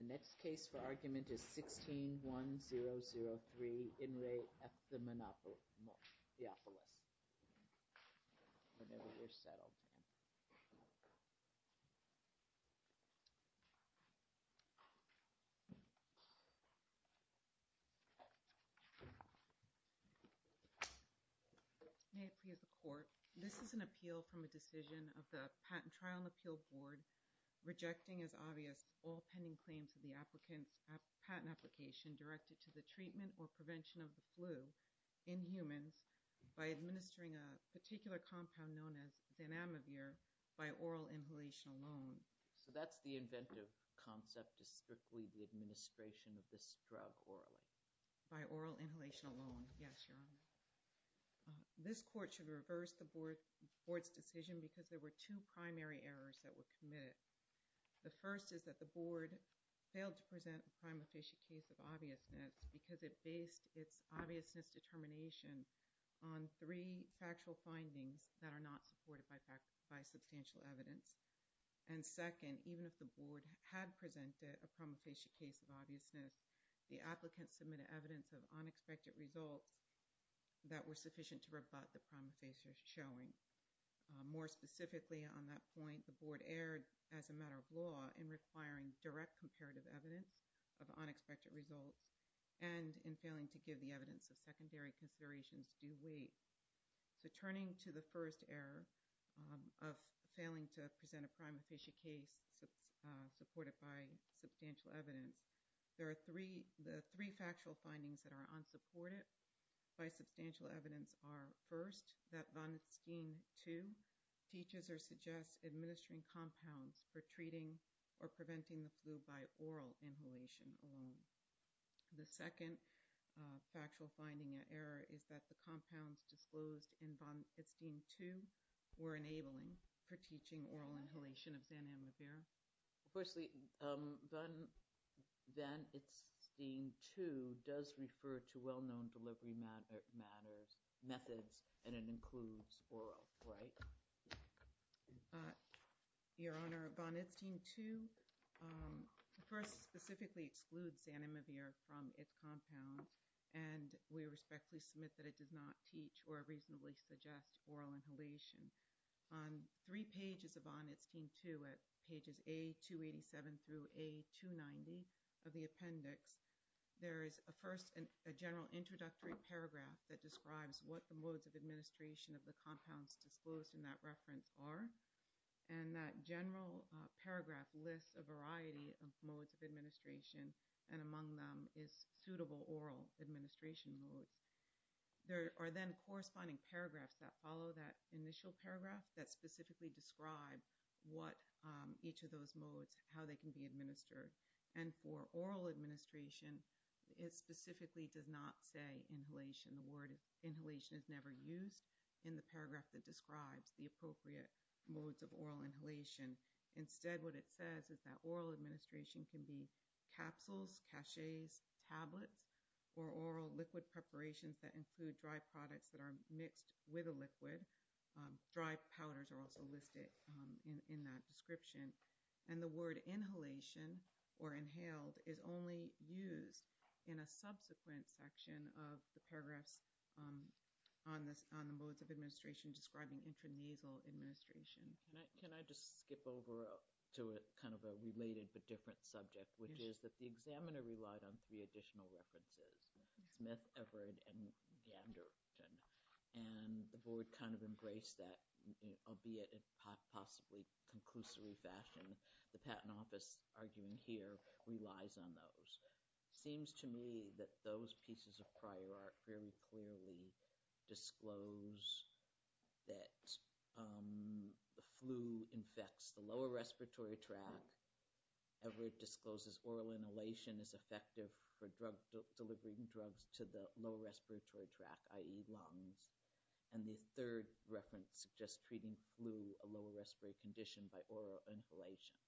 The next case for argument is 16-1-0-0-1. This is an appeal from a decision of the Patent Trial and Appeal Board rejecting as obvious all pending claims of the applicant's patent application directed to the treatment or prevention of the flu in humans by administering a particular compound known as Zanamivir by oral inhalation alone. So that's the inventive concept is strictly the administration of this drug orally. By oral inhalation alone. Yes, Your Honor. This court should reverse the board's decision because there were two primary errors that were committed. The first is that the board failed to present a prima facie case of obviousness because it based its obviousness determination on three factual findings that are not supported by substantial evidence. And second, even if the board had presented a prima facie case of obviousness, the applicant submitted evidence of unexpected results that were sufficient to rebut the prima facie showing. More specifically on that point, the board erred as a matter of law in requiring direct comparative evidence of unexpected results and in failing to give the evidence of secondary considerations due weight. So turning to the first error of failing to present a prima facie case supported by substantial evidence, there are three factual findings that are unsupported by substantial evidence. The three factual findings are, first, that Van Etschtein 2 teaches or suggests administering compounds for treating or preventing the flu by oral inhalation alone. The second factual finding error is that the compounds disclosed in Van Etschtein 2 were enabling for teaching oral inhalation of Zanamivir. Firstly, Van Etschtein 2 does refer to well-known delivery methods and it includes oral, right? Your Honor, Van Etschtein 2 first specifically excludes Zanamivir from its compound and we respectfully submit that it does not teach or reasonably suggest oral inhalation. On three pages of Van Etschtein 2, at pages A287 through A290 of the appendix, there is a first general introductory paragraph that describes what the modes of administration of the compounds disclosed in that reference are. And that general paragraph lists a variety of modes of administration and among them is suitable oral administration modes. There are then corresponding paragraphs that follow that initial paragraph that specifically describe what each of those modes, how they can be administered. And for oral administration, it specifically does not say inhalation. The word inhalation is never used in the paragraph that describes the appropriate modes of oral inhalation. Instead, what it says is that oral administration can be capsules, caches, tablets, or oral liquid preparations that include dry products that are mixed with a liquid. Dry powders are also listed in that description. And the word inhalation or inhaled is only used in a subsequent section of the paragraphs on the modes of administration describing intranasal administration. Can I just skip over to kind of a related but different subject, which is that the examiner relied on three additional references, Smith, Everett, and Ganderton. And the board kind of embraced that, albeit in possibly conclusory fashion. The Patent Office, arguing here, relies on those. It seems to me that those pieces of prior art very clearly disclose that the flu infects the lower respiratory tract. Everett discloses oral inhalation is effective for delivering drugs to the lower respiratory tract, i.e. lungs. And the third reference suggests treating flu, a lower respiratory condition, by oral inhalation.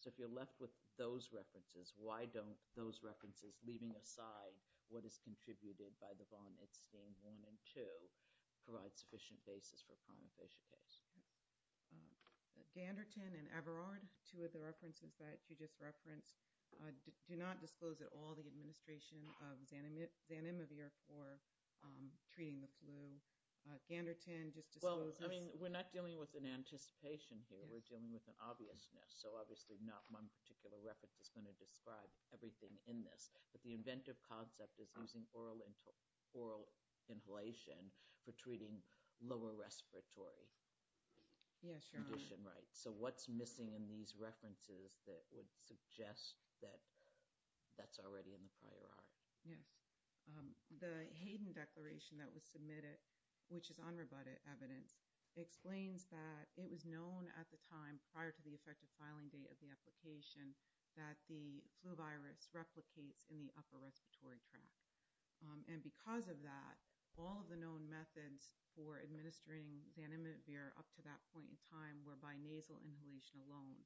So if you're left with those references, why don't those references, leaving aside what is contributed by the von Itzstein 1 and 2, provide sufficient basis for a prima facie case? Yes. Ganderton and Everard, two of the references that you just referenced, do not disclose at all the administration of Zanimivir for treating the flu. Ganderton just discloses— Well, I mean, we're not dealing with an anticipation here. We're dealing with an obviousness, so obviously not one particular reference is going to describe everything in this. But the inventive concept is using oral inhalation for treating lower respiratory condition, right? Yes, Your Honor. So what's missing in these references that would suggest that that's already in the prior art? Yes. The Hayden Declaration that was submitted, which is unrebutted evidence, explains that it was known at the time prior to the effective filing date of the application that the flu virus replicates in the upper respiratory tract. And because of that, all of the known methods for administering Zanimivir up to that point in time were by nasal inhalation alone.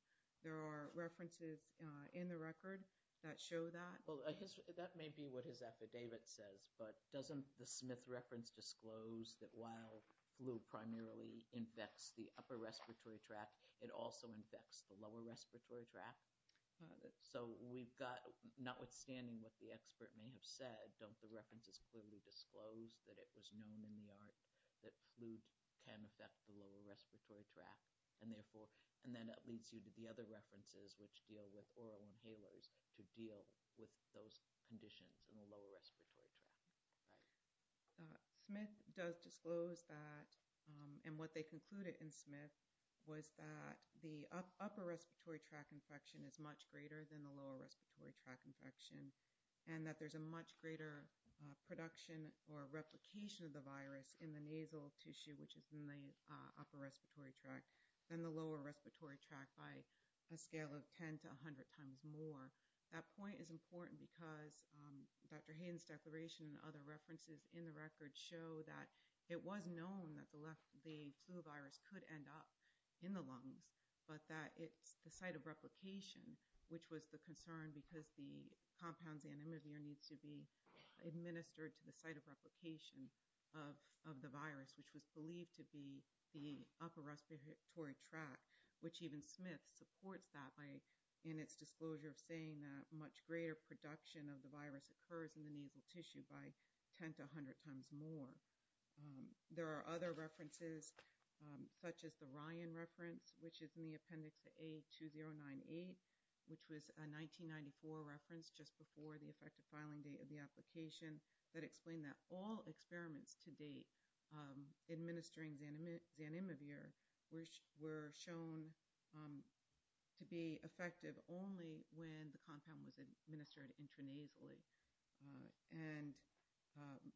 There are references in the record that show that. Well, that may be what his affidavit says, but doesn't the Smith reference disclose that while flu primarily infects the upper respiratory tract, it also infects the lower respiratory tract? So we've got—notwithstanding what the expert may have said, don't the references clearly disclose that it was known in the art that flu can affect the lower respiratory tract? And then that leads you to the other references, which deal with oral inhalers, to deal with those conditions in the lower respiratory tract, right? Smith does disclose that, and what they concluded in Smith was that the upper respiratory tract infection is much greater than the lower respiratory tract infection, and that there's a much greater production or replication of the virus in the nasal tissue, which is in the upper respiratory tract, than the lower respiratory tract by a scale of 10 to 100 times more. That point is important because Dr. Hayden's declaration and other references in the record show that it was known that the flu virus could end up in the lungs, but that it's the site of replication, which was the concern because the compound Zanimivir needs to be administered to the site of replication of the virus, which was believed to be the upper respiratory tract, which even Smith supports that in its disclosure of saying that much greater production of the virus occurs in the nasal tissue by 10 to 100 times more. There are other references, such as the Ryan reference, which is in the Appendix A-2098, which was a 1994 reference just before the effective filing date of the application that explained that all experiments to date administering Zanimivir were shown to be effective only when the compound was administered intranasally. And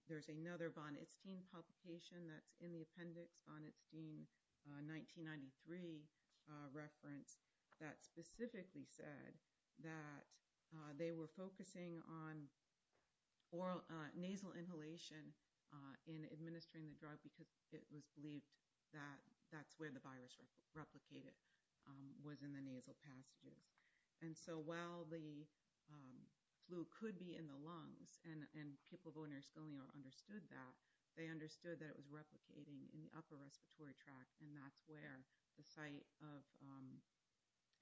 there's another von Itztein publication that's in the appendix, von Itztein 1993 reference, that specifically said that they were focusing on nasal inhalation in administering the drug because it was believed that that's where the virus replicated, was in the nasal passages. And so while the flu could be in the lungs, and people of owner's schooling understood that, they understood that it was replicating in the upper respiratory tract, and that's where the site of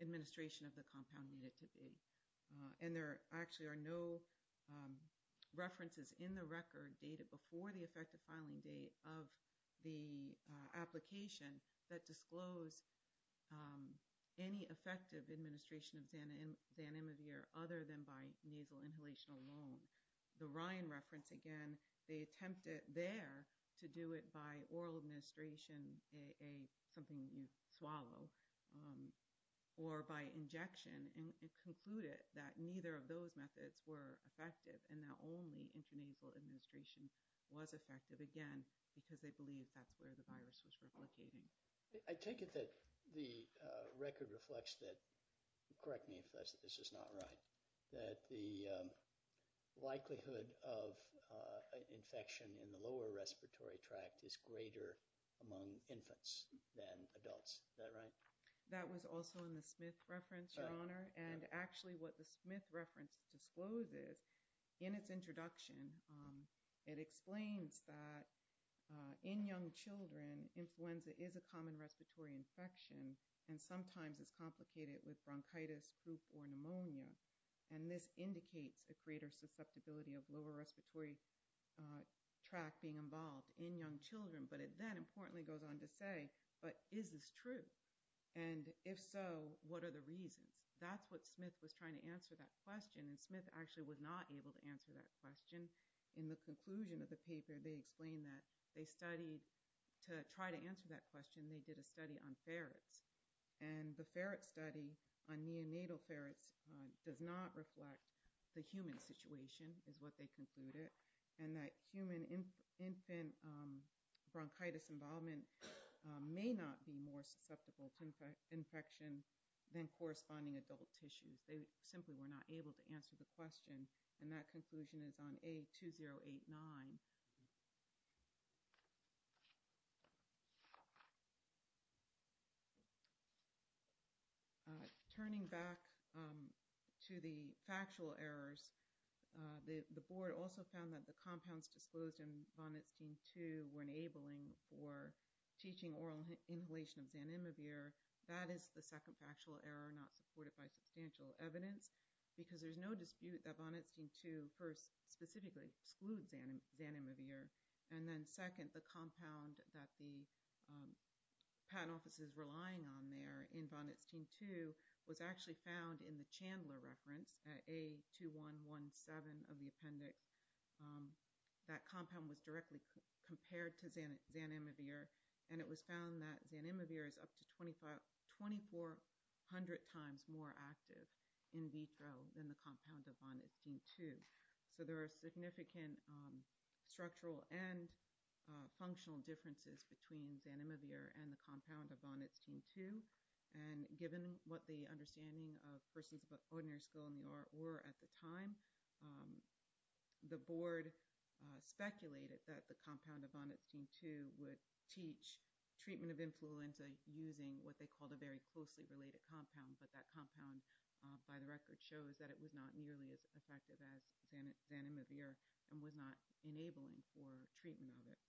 administration of the compound needed to be. And there actually are no references in the record dated before the effective filing date of the application that disclose any effective administration of Zanimivir other than by nasal inhalation alone. The Ryan reference, again, they attempted there to do it by oral administration, something you swallow, or by injection, and concluded that neither of those methods were effective, and that only intranasal administration was effective, again, because they believed that's where the virus was replicating. I take it that the record reflects that, correct me if this is not right, that the likelihood of infection in the lower respiratory tract is greater among infants than adults, is that right? That was also in the Smith reference, Your Honor, and actually what the Smith reference discloses in its introduction, it explains that in young children, influenza is a common respiratory infection, and sometimes it's complicated with bronchitis, poop, or pneumonia, and this indicates a greater susceptibility of lower respiratory tract being involved in young children, but it then importantly goes on to say, but is this true? And if so, what are the reasons? That's what Smith was trying to answer that question, and Smith actually was not able to answer that question. In the conclusion of the paper, they explain that they studied, to try to answer that question, they did a study on ferrets, and the ferret study on neonatal ferrets does not reflect the human situation, is what they concluded, and that human infant bronchitis involvement may not be more susceptible to infection than corresponding adult tissues. They simply were not able to answer the question, and that conclusion is on A-2089. Turning back to the factual errors, the board also found that the compounds disclosed in von Etzstein 2 were enabling for teaching oral inhalation of Xanimibir, that is the second factual error, not supported by substantial evidence, because there's no dispute that von Etzstein 2 first specifically excludes Xanimibir. And then second, the compound that the patent office is relying on there in von Etzstein 2 was actually found in the Chandler reference at A-2117 of the appendix. That compound was directly compared to Xanimibir, and it was found that Xanimibir is up to 2400 times more active in vitro than the compound of von Etzstein 2. So there are significant structural and functional differences between Xanimibir and the compound of von Etzstein 2, and given what the understanding of persons of ordinary skill in the art were at the time, the board speculated that the compound of von Etzstein 2 would teach treatment of influenza using what they called a very closely related compound, but that compound, by the record, shows that it was not nearly as effective as Xanimibir and was not enabling for treatment of it.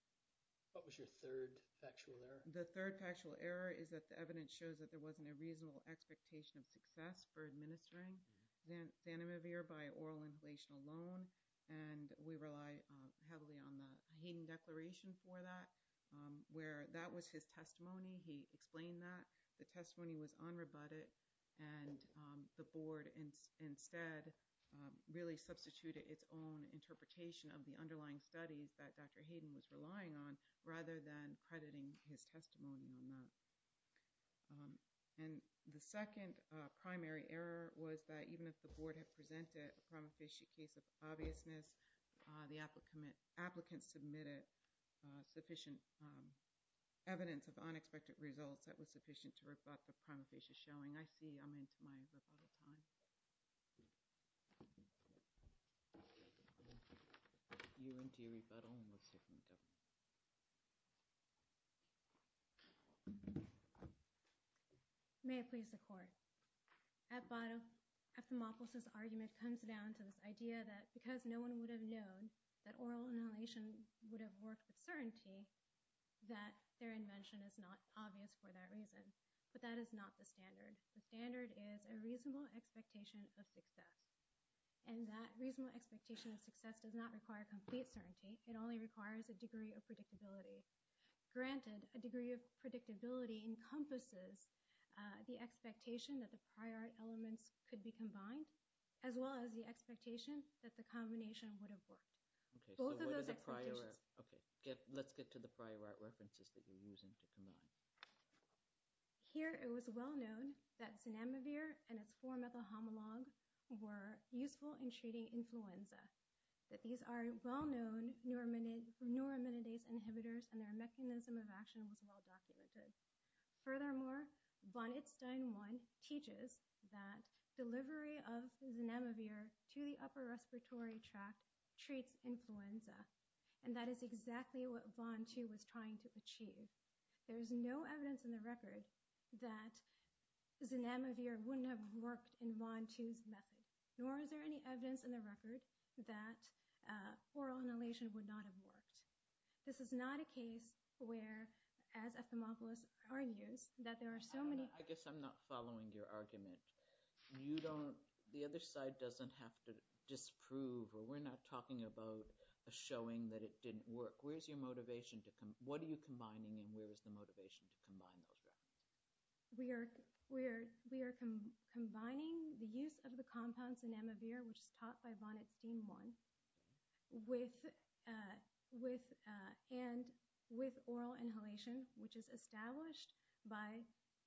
What was your third factual error? The third factual error is that the evidence shows that there wasn't a reasonable expectation of success for administering Xanimibir by oral inhalation alone, and we rely heavily on the Hayden declaration for that, where that was his testimony. He explained that the testimony was unrebutted, and the board instead really substituted its own interpretation of the underlying studies that Dr. Hayden was relying on rather than crediting his testimony on that. And the second primary error was that even if the board had presented a prima facie case of obviousness, the applicants submitted sufficient evidence of unexpected results that was sufficient to rebut the prima facie showing. I see I'm into my rebuttal time. You're into your rebuttal, and we'll stick with the government. May it please the court. At bottom, Ephthalmophilus' argument comes down to this idea that because no one would have known that oral inhalation would have worked with certainty, that their invention is not obvious for that reason. But that is not the standard. The standard is a reasonable expectation of success, and that reasonable expectation of success does not require complete certainty. It only requires a degree of predictability. Granted, a degree of predictability encompasses the expectation that the prior art elements could be combined as well as the expectation that the combination would have worked. Both of those expectations. Okay, let's get to the prior art references that you're using to combine. Here it was well known that Zinamivir and its 4-methyl homolog were useful in treating influenza, that these are well-known neuraminidase inhibitors and their mechanism of action was well documented. Furthermore, von Itstein 1 teaches that delivery of Zinamivir to the upper respiratory tract treats influenza, and that is exactly what von 2 was trying to achieve. There is no evidence in the record that Zinamivir wouldn't have worked in von 2's method, nor is there any evidence in the record that oral inhalation would not have worked. This is not a case where, as Ophthalmophilus argues, that there are so many... I guess I'm not following your argument. You don't, the other side doesn't have to disprove, or we're not talking about a showing that it didn't work. Where's your motivation to, what are you combining and where is the motivation to combine those references? We are combining the use of the compounds in Zinamivir, which is taught by von Itstein 1, and with oral inhalation, which is established by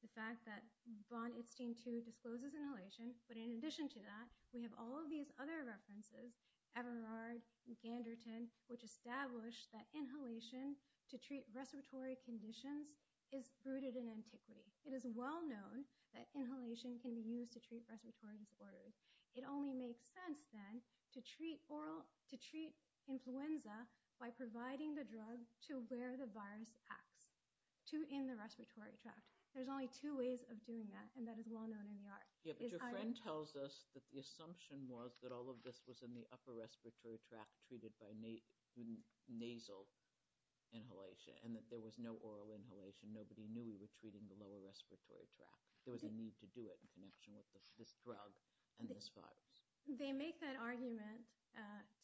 the fact that von Itstein 2 discloses inhalation. But in addition to that, we have all of these other references, Everard and Ganderton, which establish that inhalation to treat respiratory conditions is rooted in antiquity. It is well known that inhalation can be used to treat respiratory disorders. It only makes sense then to treat influenza by providing the drug to where the virus acts, to in the respiratory tract. There's only two ways of doing that, and that is well known in the art. Yeah, but your friend tells us that the assumption was that all of this was in the upper respiratory tract treated by nasal inhalation, and that there was no oral inhalation. Nobody knew we were treating the lower respiratory tract. There was a need to do it in connection with this drug and this virus. They make that argument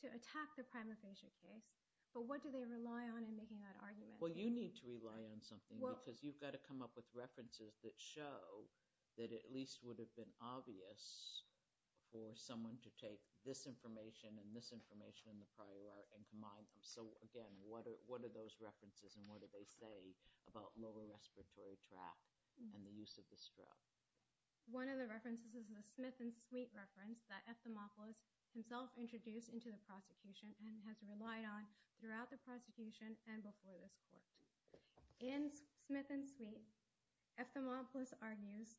to attack the primophagia case, but what do they rely on in making that argument? Well, you need to rely on something, because you've got to come up with references that show that it at least would have been obvious for someone to take this information and this information in the prior art and combine them. So again, what are those references, and what do they say about lower respiratory tract and the use of this drug? One of the references is a Smith and Sweet reference that Ephthalmopoulos himself introduced into the prosecution and has relied on throughout the prosecution and before this court. In Smith and Sweet, Ephthalmopoulos argues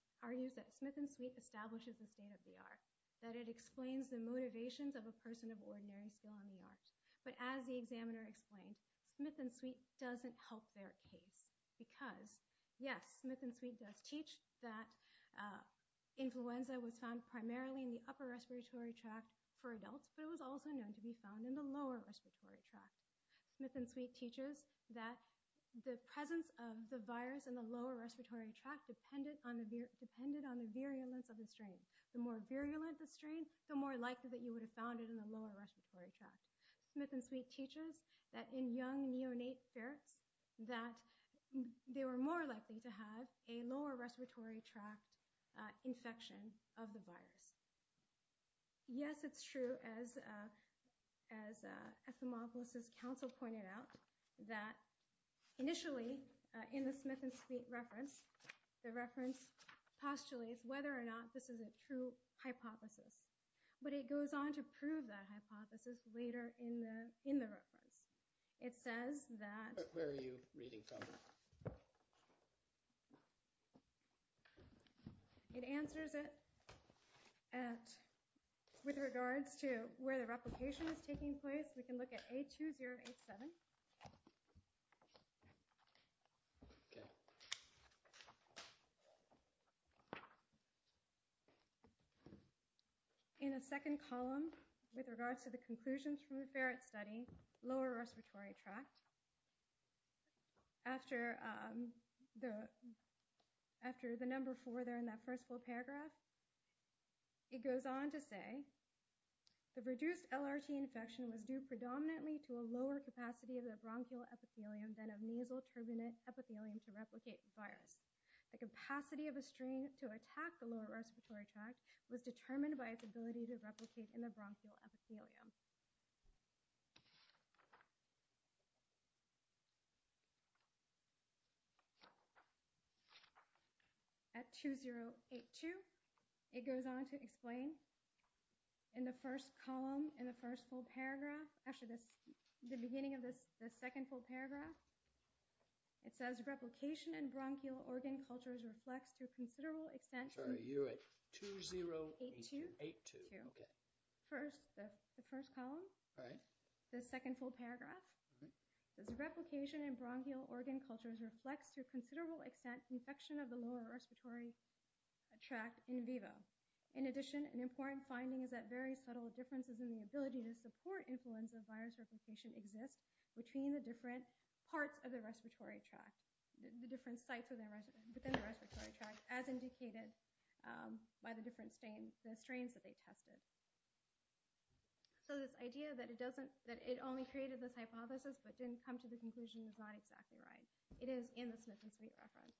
that Smith and Sweet establishes the state of the art, that it explains the motivations of a person of ordinary skill in the art. But as the examiner explained, Smith and Sweet doesn't help their case, because yes, Smith and Sweet does teach that influenza was found primarily in the upper respiratory tract for adults, but it was also known to be found in the lower respiratory tract. Smith and Sweet teaches that the presence of the virus in the lower respiratory tract depended on the virulence of the strain. The more virulent the strain, the more likely that you would have found it in the lower respiratory tract. Smith and Sweet teaches that in young neonate ferrets, that they were more likely to have a lower respiratory tract infection of the virus. Yes, it's true, as Ephthalmopoulos' counsel pointed out, that initially in the Smith and Sweet reference, the reference postulates whether or not this is a true hypothesis, but it goes on to prove that hypothesis later in the reference. Where are you reading from? It answers it with regards to where the replication is taking place. We can look at A2087. In a second column, with regards to the conclusions from the ferret study, lower respiratory tract, after the number four there in that first full paragraph, it goes on to say, The reduced LRT infection was due predominantly to a lower capacity of the bronchial epithelium than of nasal turbinate epithelium to replicate the virus. The capacity of a strain to attack the lower respiratory tract was determined by its ability to replicate in the bronchial epithelium. At A2082, it goes on to explain, in the first column, in the first full paragraph, actually the beginning of the second full paragraph, it says replication in bronchial organ cultures reflects to a considerable extent Sorry, you're at A2082. by the different strains that they tested. So this idea that it only created this hypothesis but didn't come to the conclusion is not exactly right. It is in the Smith and Sweet reference.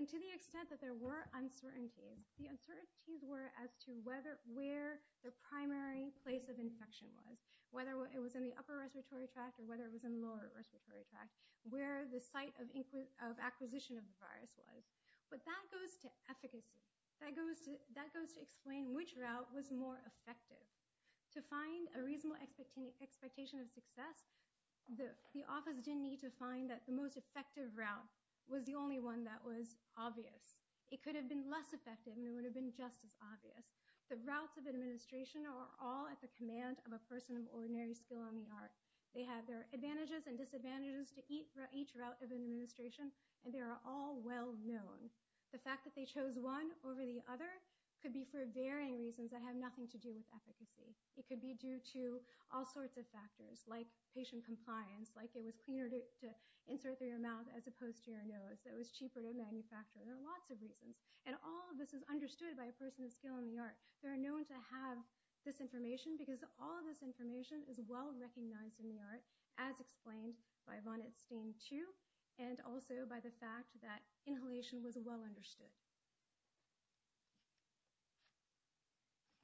And to the extent that there were uncertainties, the uncertainties were as to where the primary place of infection was, whether it was in the upper respiratory tract or whether it was in the lower respiratory tract, where the site of acquisition of the virus was. But that goes to efficacy. That goes to explain which route was more effective. To find a reasonable expectation of success, the office didn't need to find that the most effective route was the only one that was obvious. It could have been less effective and it would have been just as obvious. The routes of administration are all at the command of a person of ordinary skill in the art. They have their advantages and disadvantages to each route of administration and they are all well known. The fact that they chose one over the other could be for varying reasons that have nothing to do with efficacy. It could be due to all sorts of factors, like patient compliance, like it was cleaner to insert through your mouth as opposed to your nose, it was cheaper to manufacture. There are lots of reasons and all of this is understood by a person of skill in the art. They are known to have this information because all of this information is well recognized in the art as explained by von Etzstein 2 and also by the fact that inhalation was well understood.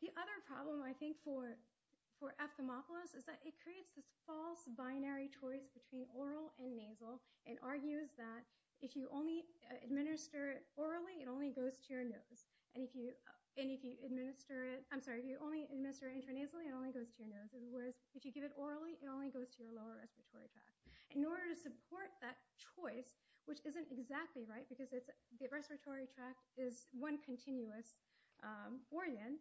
The other problem I think for ephthymopolis is that it creates this false binary choice between oral and nasal and argues that if you only administer it orally, it only goes to your nose. If you administer it intranasally, it only goes to your nose. If you give it orally, it only goes to your lower respiratory tract. In order to support that choice, which isn't exactly right because the respiratory tract is one continuous organ,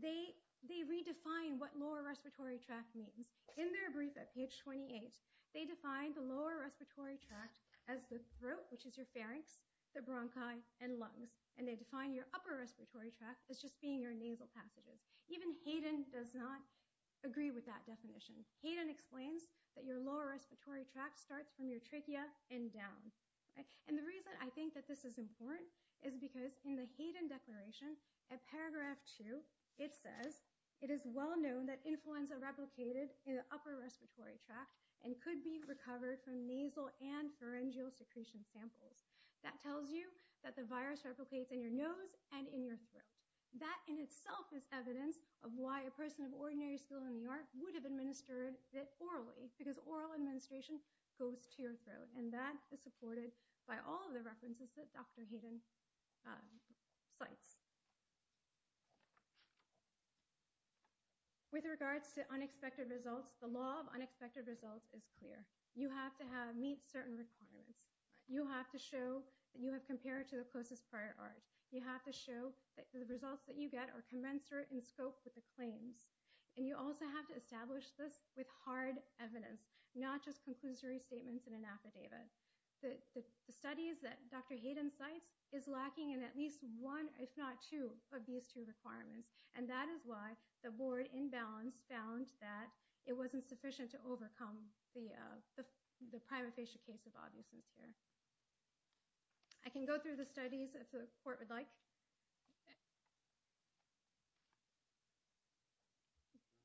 they redefine what lower respiratory tract means. In their brief at page 28, they define the lower respiratory tract as the throat, which is your pharynx, the bronchi, and lungs. They define your upper respiratory tract as just being your nasal passages. Even Hayden does not agree with that definition. Hayden explains that your lower respiratory tract starts from your trachea and down. The reason I think that this is important is because in the Hayden declaration at paragraph 2, it says, it is well known that influenza replicated in the upper respiratory tract and could be recovered from nasal and pharyngeal secretion samples. That tells you that the virus replicates in your nose and in your throat. That in itself is evidence of why a person of ordinary skill in the art would have administered it orally, because oral administration goes to your throat. That is supported by all of the references that Dr. Hayden cites. With regards to unexpected results, the law of unexpected results is clear. You have to meet certain requirements. You have to show that you have compared to the closest prior art. You have to show that the results that you get are commensurate in scope with the claims. You also have to establish this with hard evidence, not just conclusory statements in an affidavit. The studies that Dr. Hayden cites is lacking in at least one, if not two, of these two requirements. That is why the board in balance found that it wasn't sufficient to overcome the prima facie case of obviousness here. I can go through the studies if the court would like.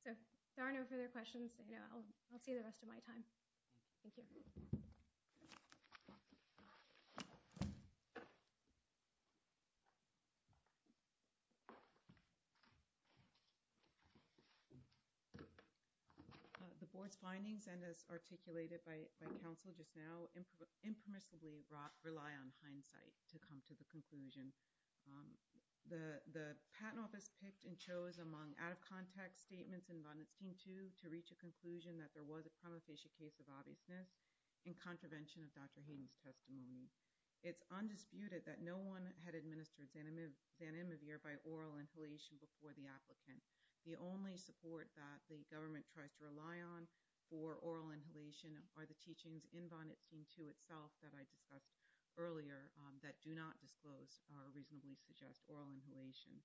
If there are no further questions, I'll see you the rest of my time. Thank you. Thank you. The board's findings, and as articulated by counsel just now, impermissibly rely on hindsight to come to the conclusion. The patent office picked and chose among out-of-context statements in Von Itstein 2 to reach a conclusion that there was a prima facie case of obviousness in contravention of Dr. Hayden's testimony. It's undisputed that no one had administered Xanamivir by oral inhalation before the applicant. The only support that the government tries to rely on for oral inhalation are the teachings in Von Itstein 2 itself that I discussed earlier that do not disclose or reasonably suggest oral inhalation.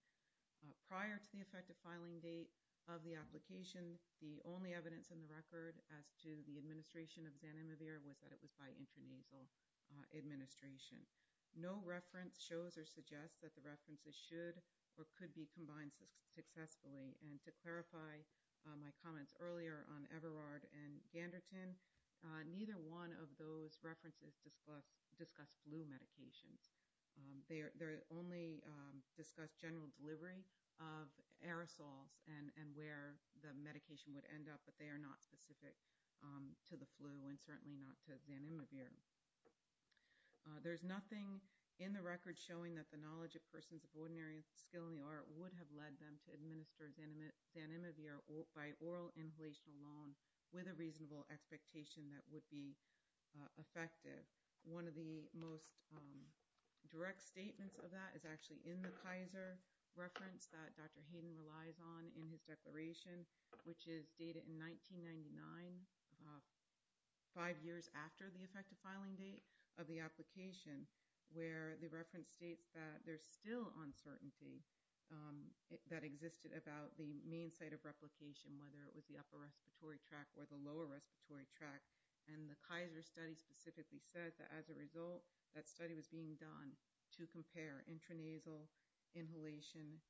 Prior to the effective filing date of the application, the only evidence in the record as to the administration of Xanamivir was that it was by intranasal administration. No reference shows or suggests that the references should or could be combined successfully. And to clarify my comments earlier on Everard and Ganderton, neither one of those references discuss flu medications. They only discuss general delivery of aerosols and where the medication would end up, but they are not specific to the flu and certainly not to Xanamivir. There's nothing in the record showing that the knowledge of persons of ordinary skill in the art would have led them to administer Xanamivir by oral inhalation alone with a reasonable expectation that would be effective. One of the most direct statements of that is actually in the Kaiser reference that Dr. Hayden relies on in his declaration, which is dated in 1999, five years after the effective filing date of the application, where the reference states that there's still uncertainty that existed about the main site of replication, whether it was the upper respiratory tract or the lower respiratory tract. And the Kaiser study specifically says that as a result, that study was being done to compare intranasal inhalation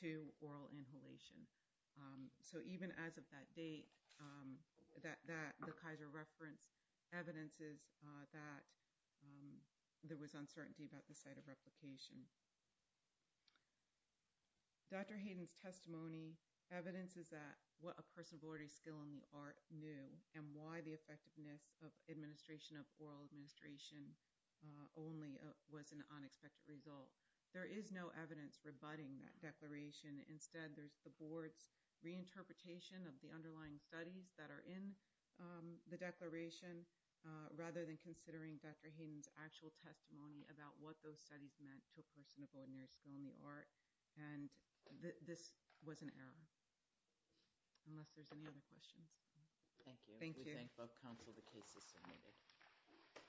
to oral inhalation. So even as of that date, the Kaiser reference evidences that there was uncertainty about the site of replication. Dr. Hayden's testimony evidences that what a person of ordinary skill in the art knew and why the effectiveness of administration of oral administration only was an unexpected result. There is no evidence rebutting that declaration. Instead, there's the board's reinterpretation of the underlying studies that are in the declaration, rather than considering Dr. Hayden's actual testimony about what those studies meant to a person of ordinary skill in the art. And this was an error. Unless there's any other questions. Thank you. Thank you. We thank both counsel. The case is submitted.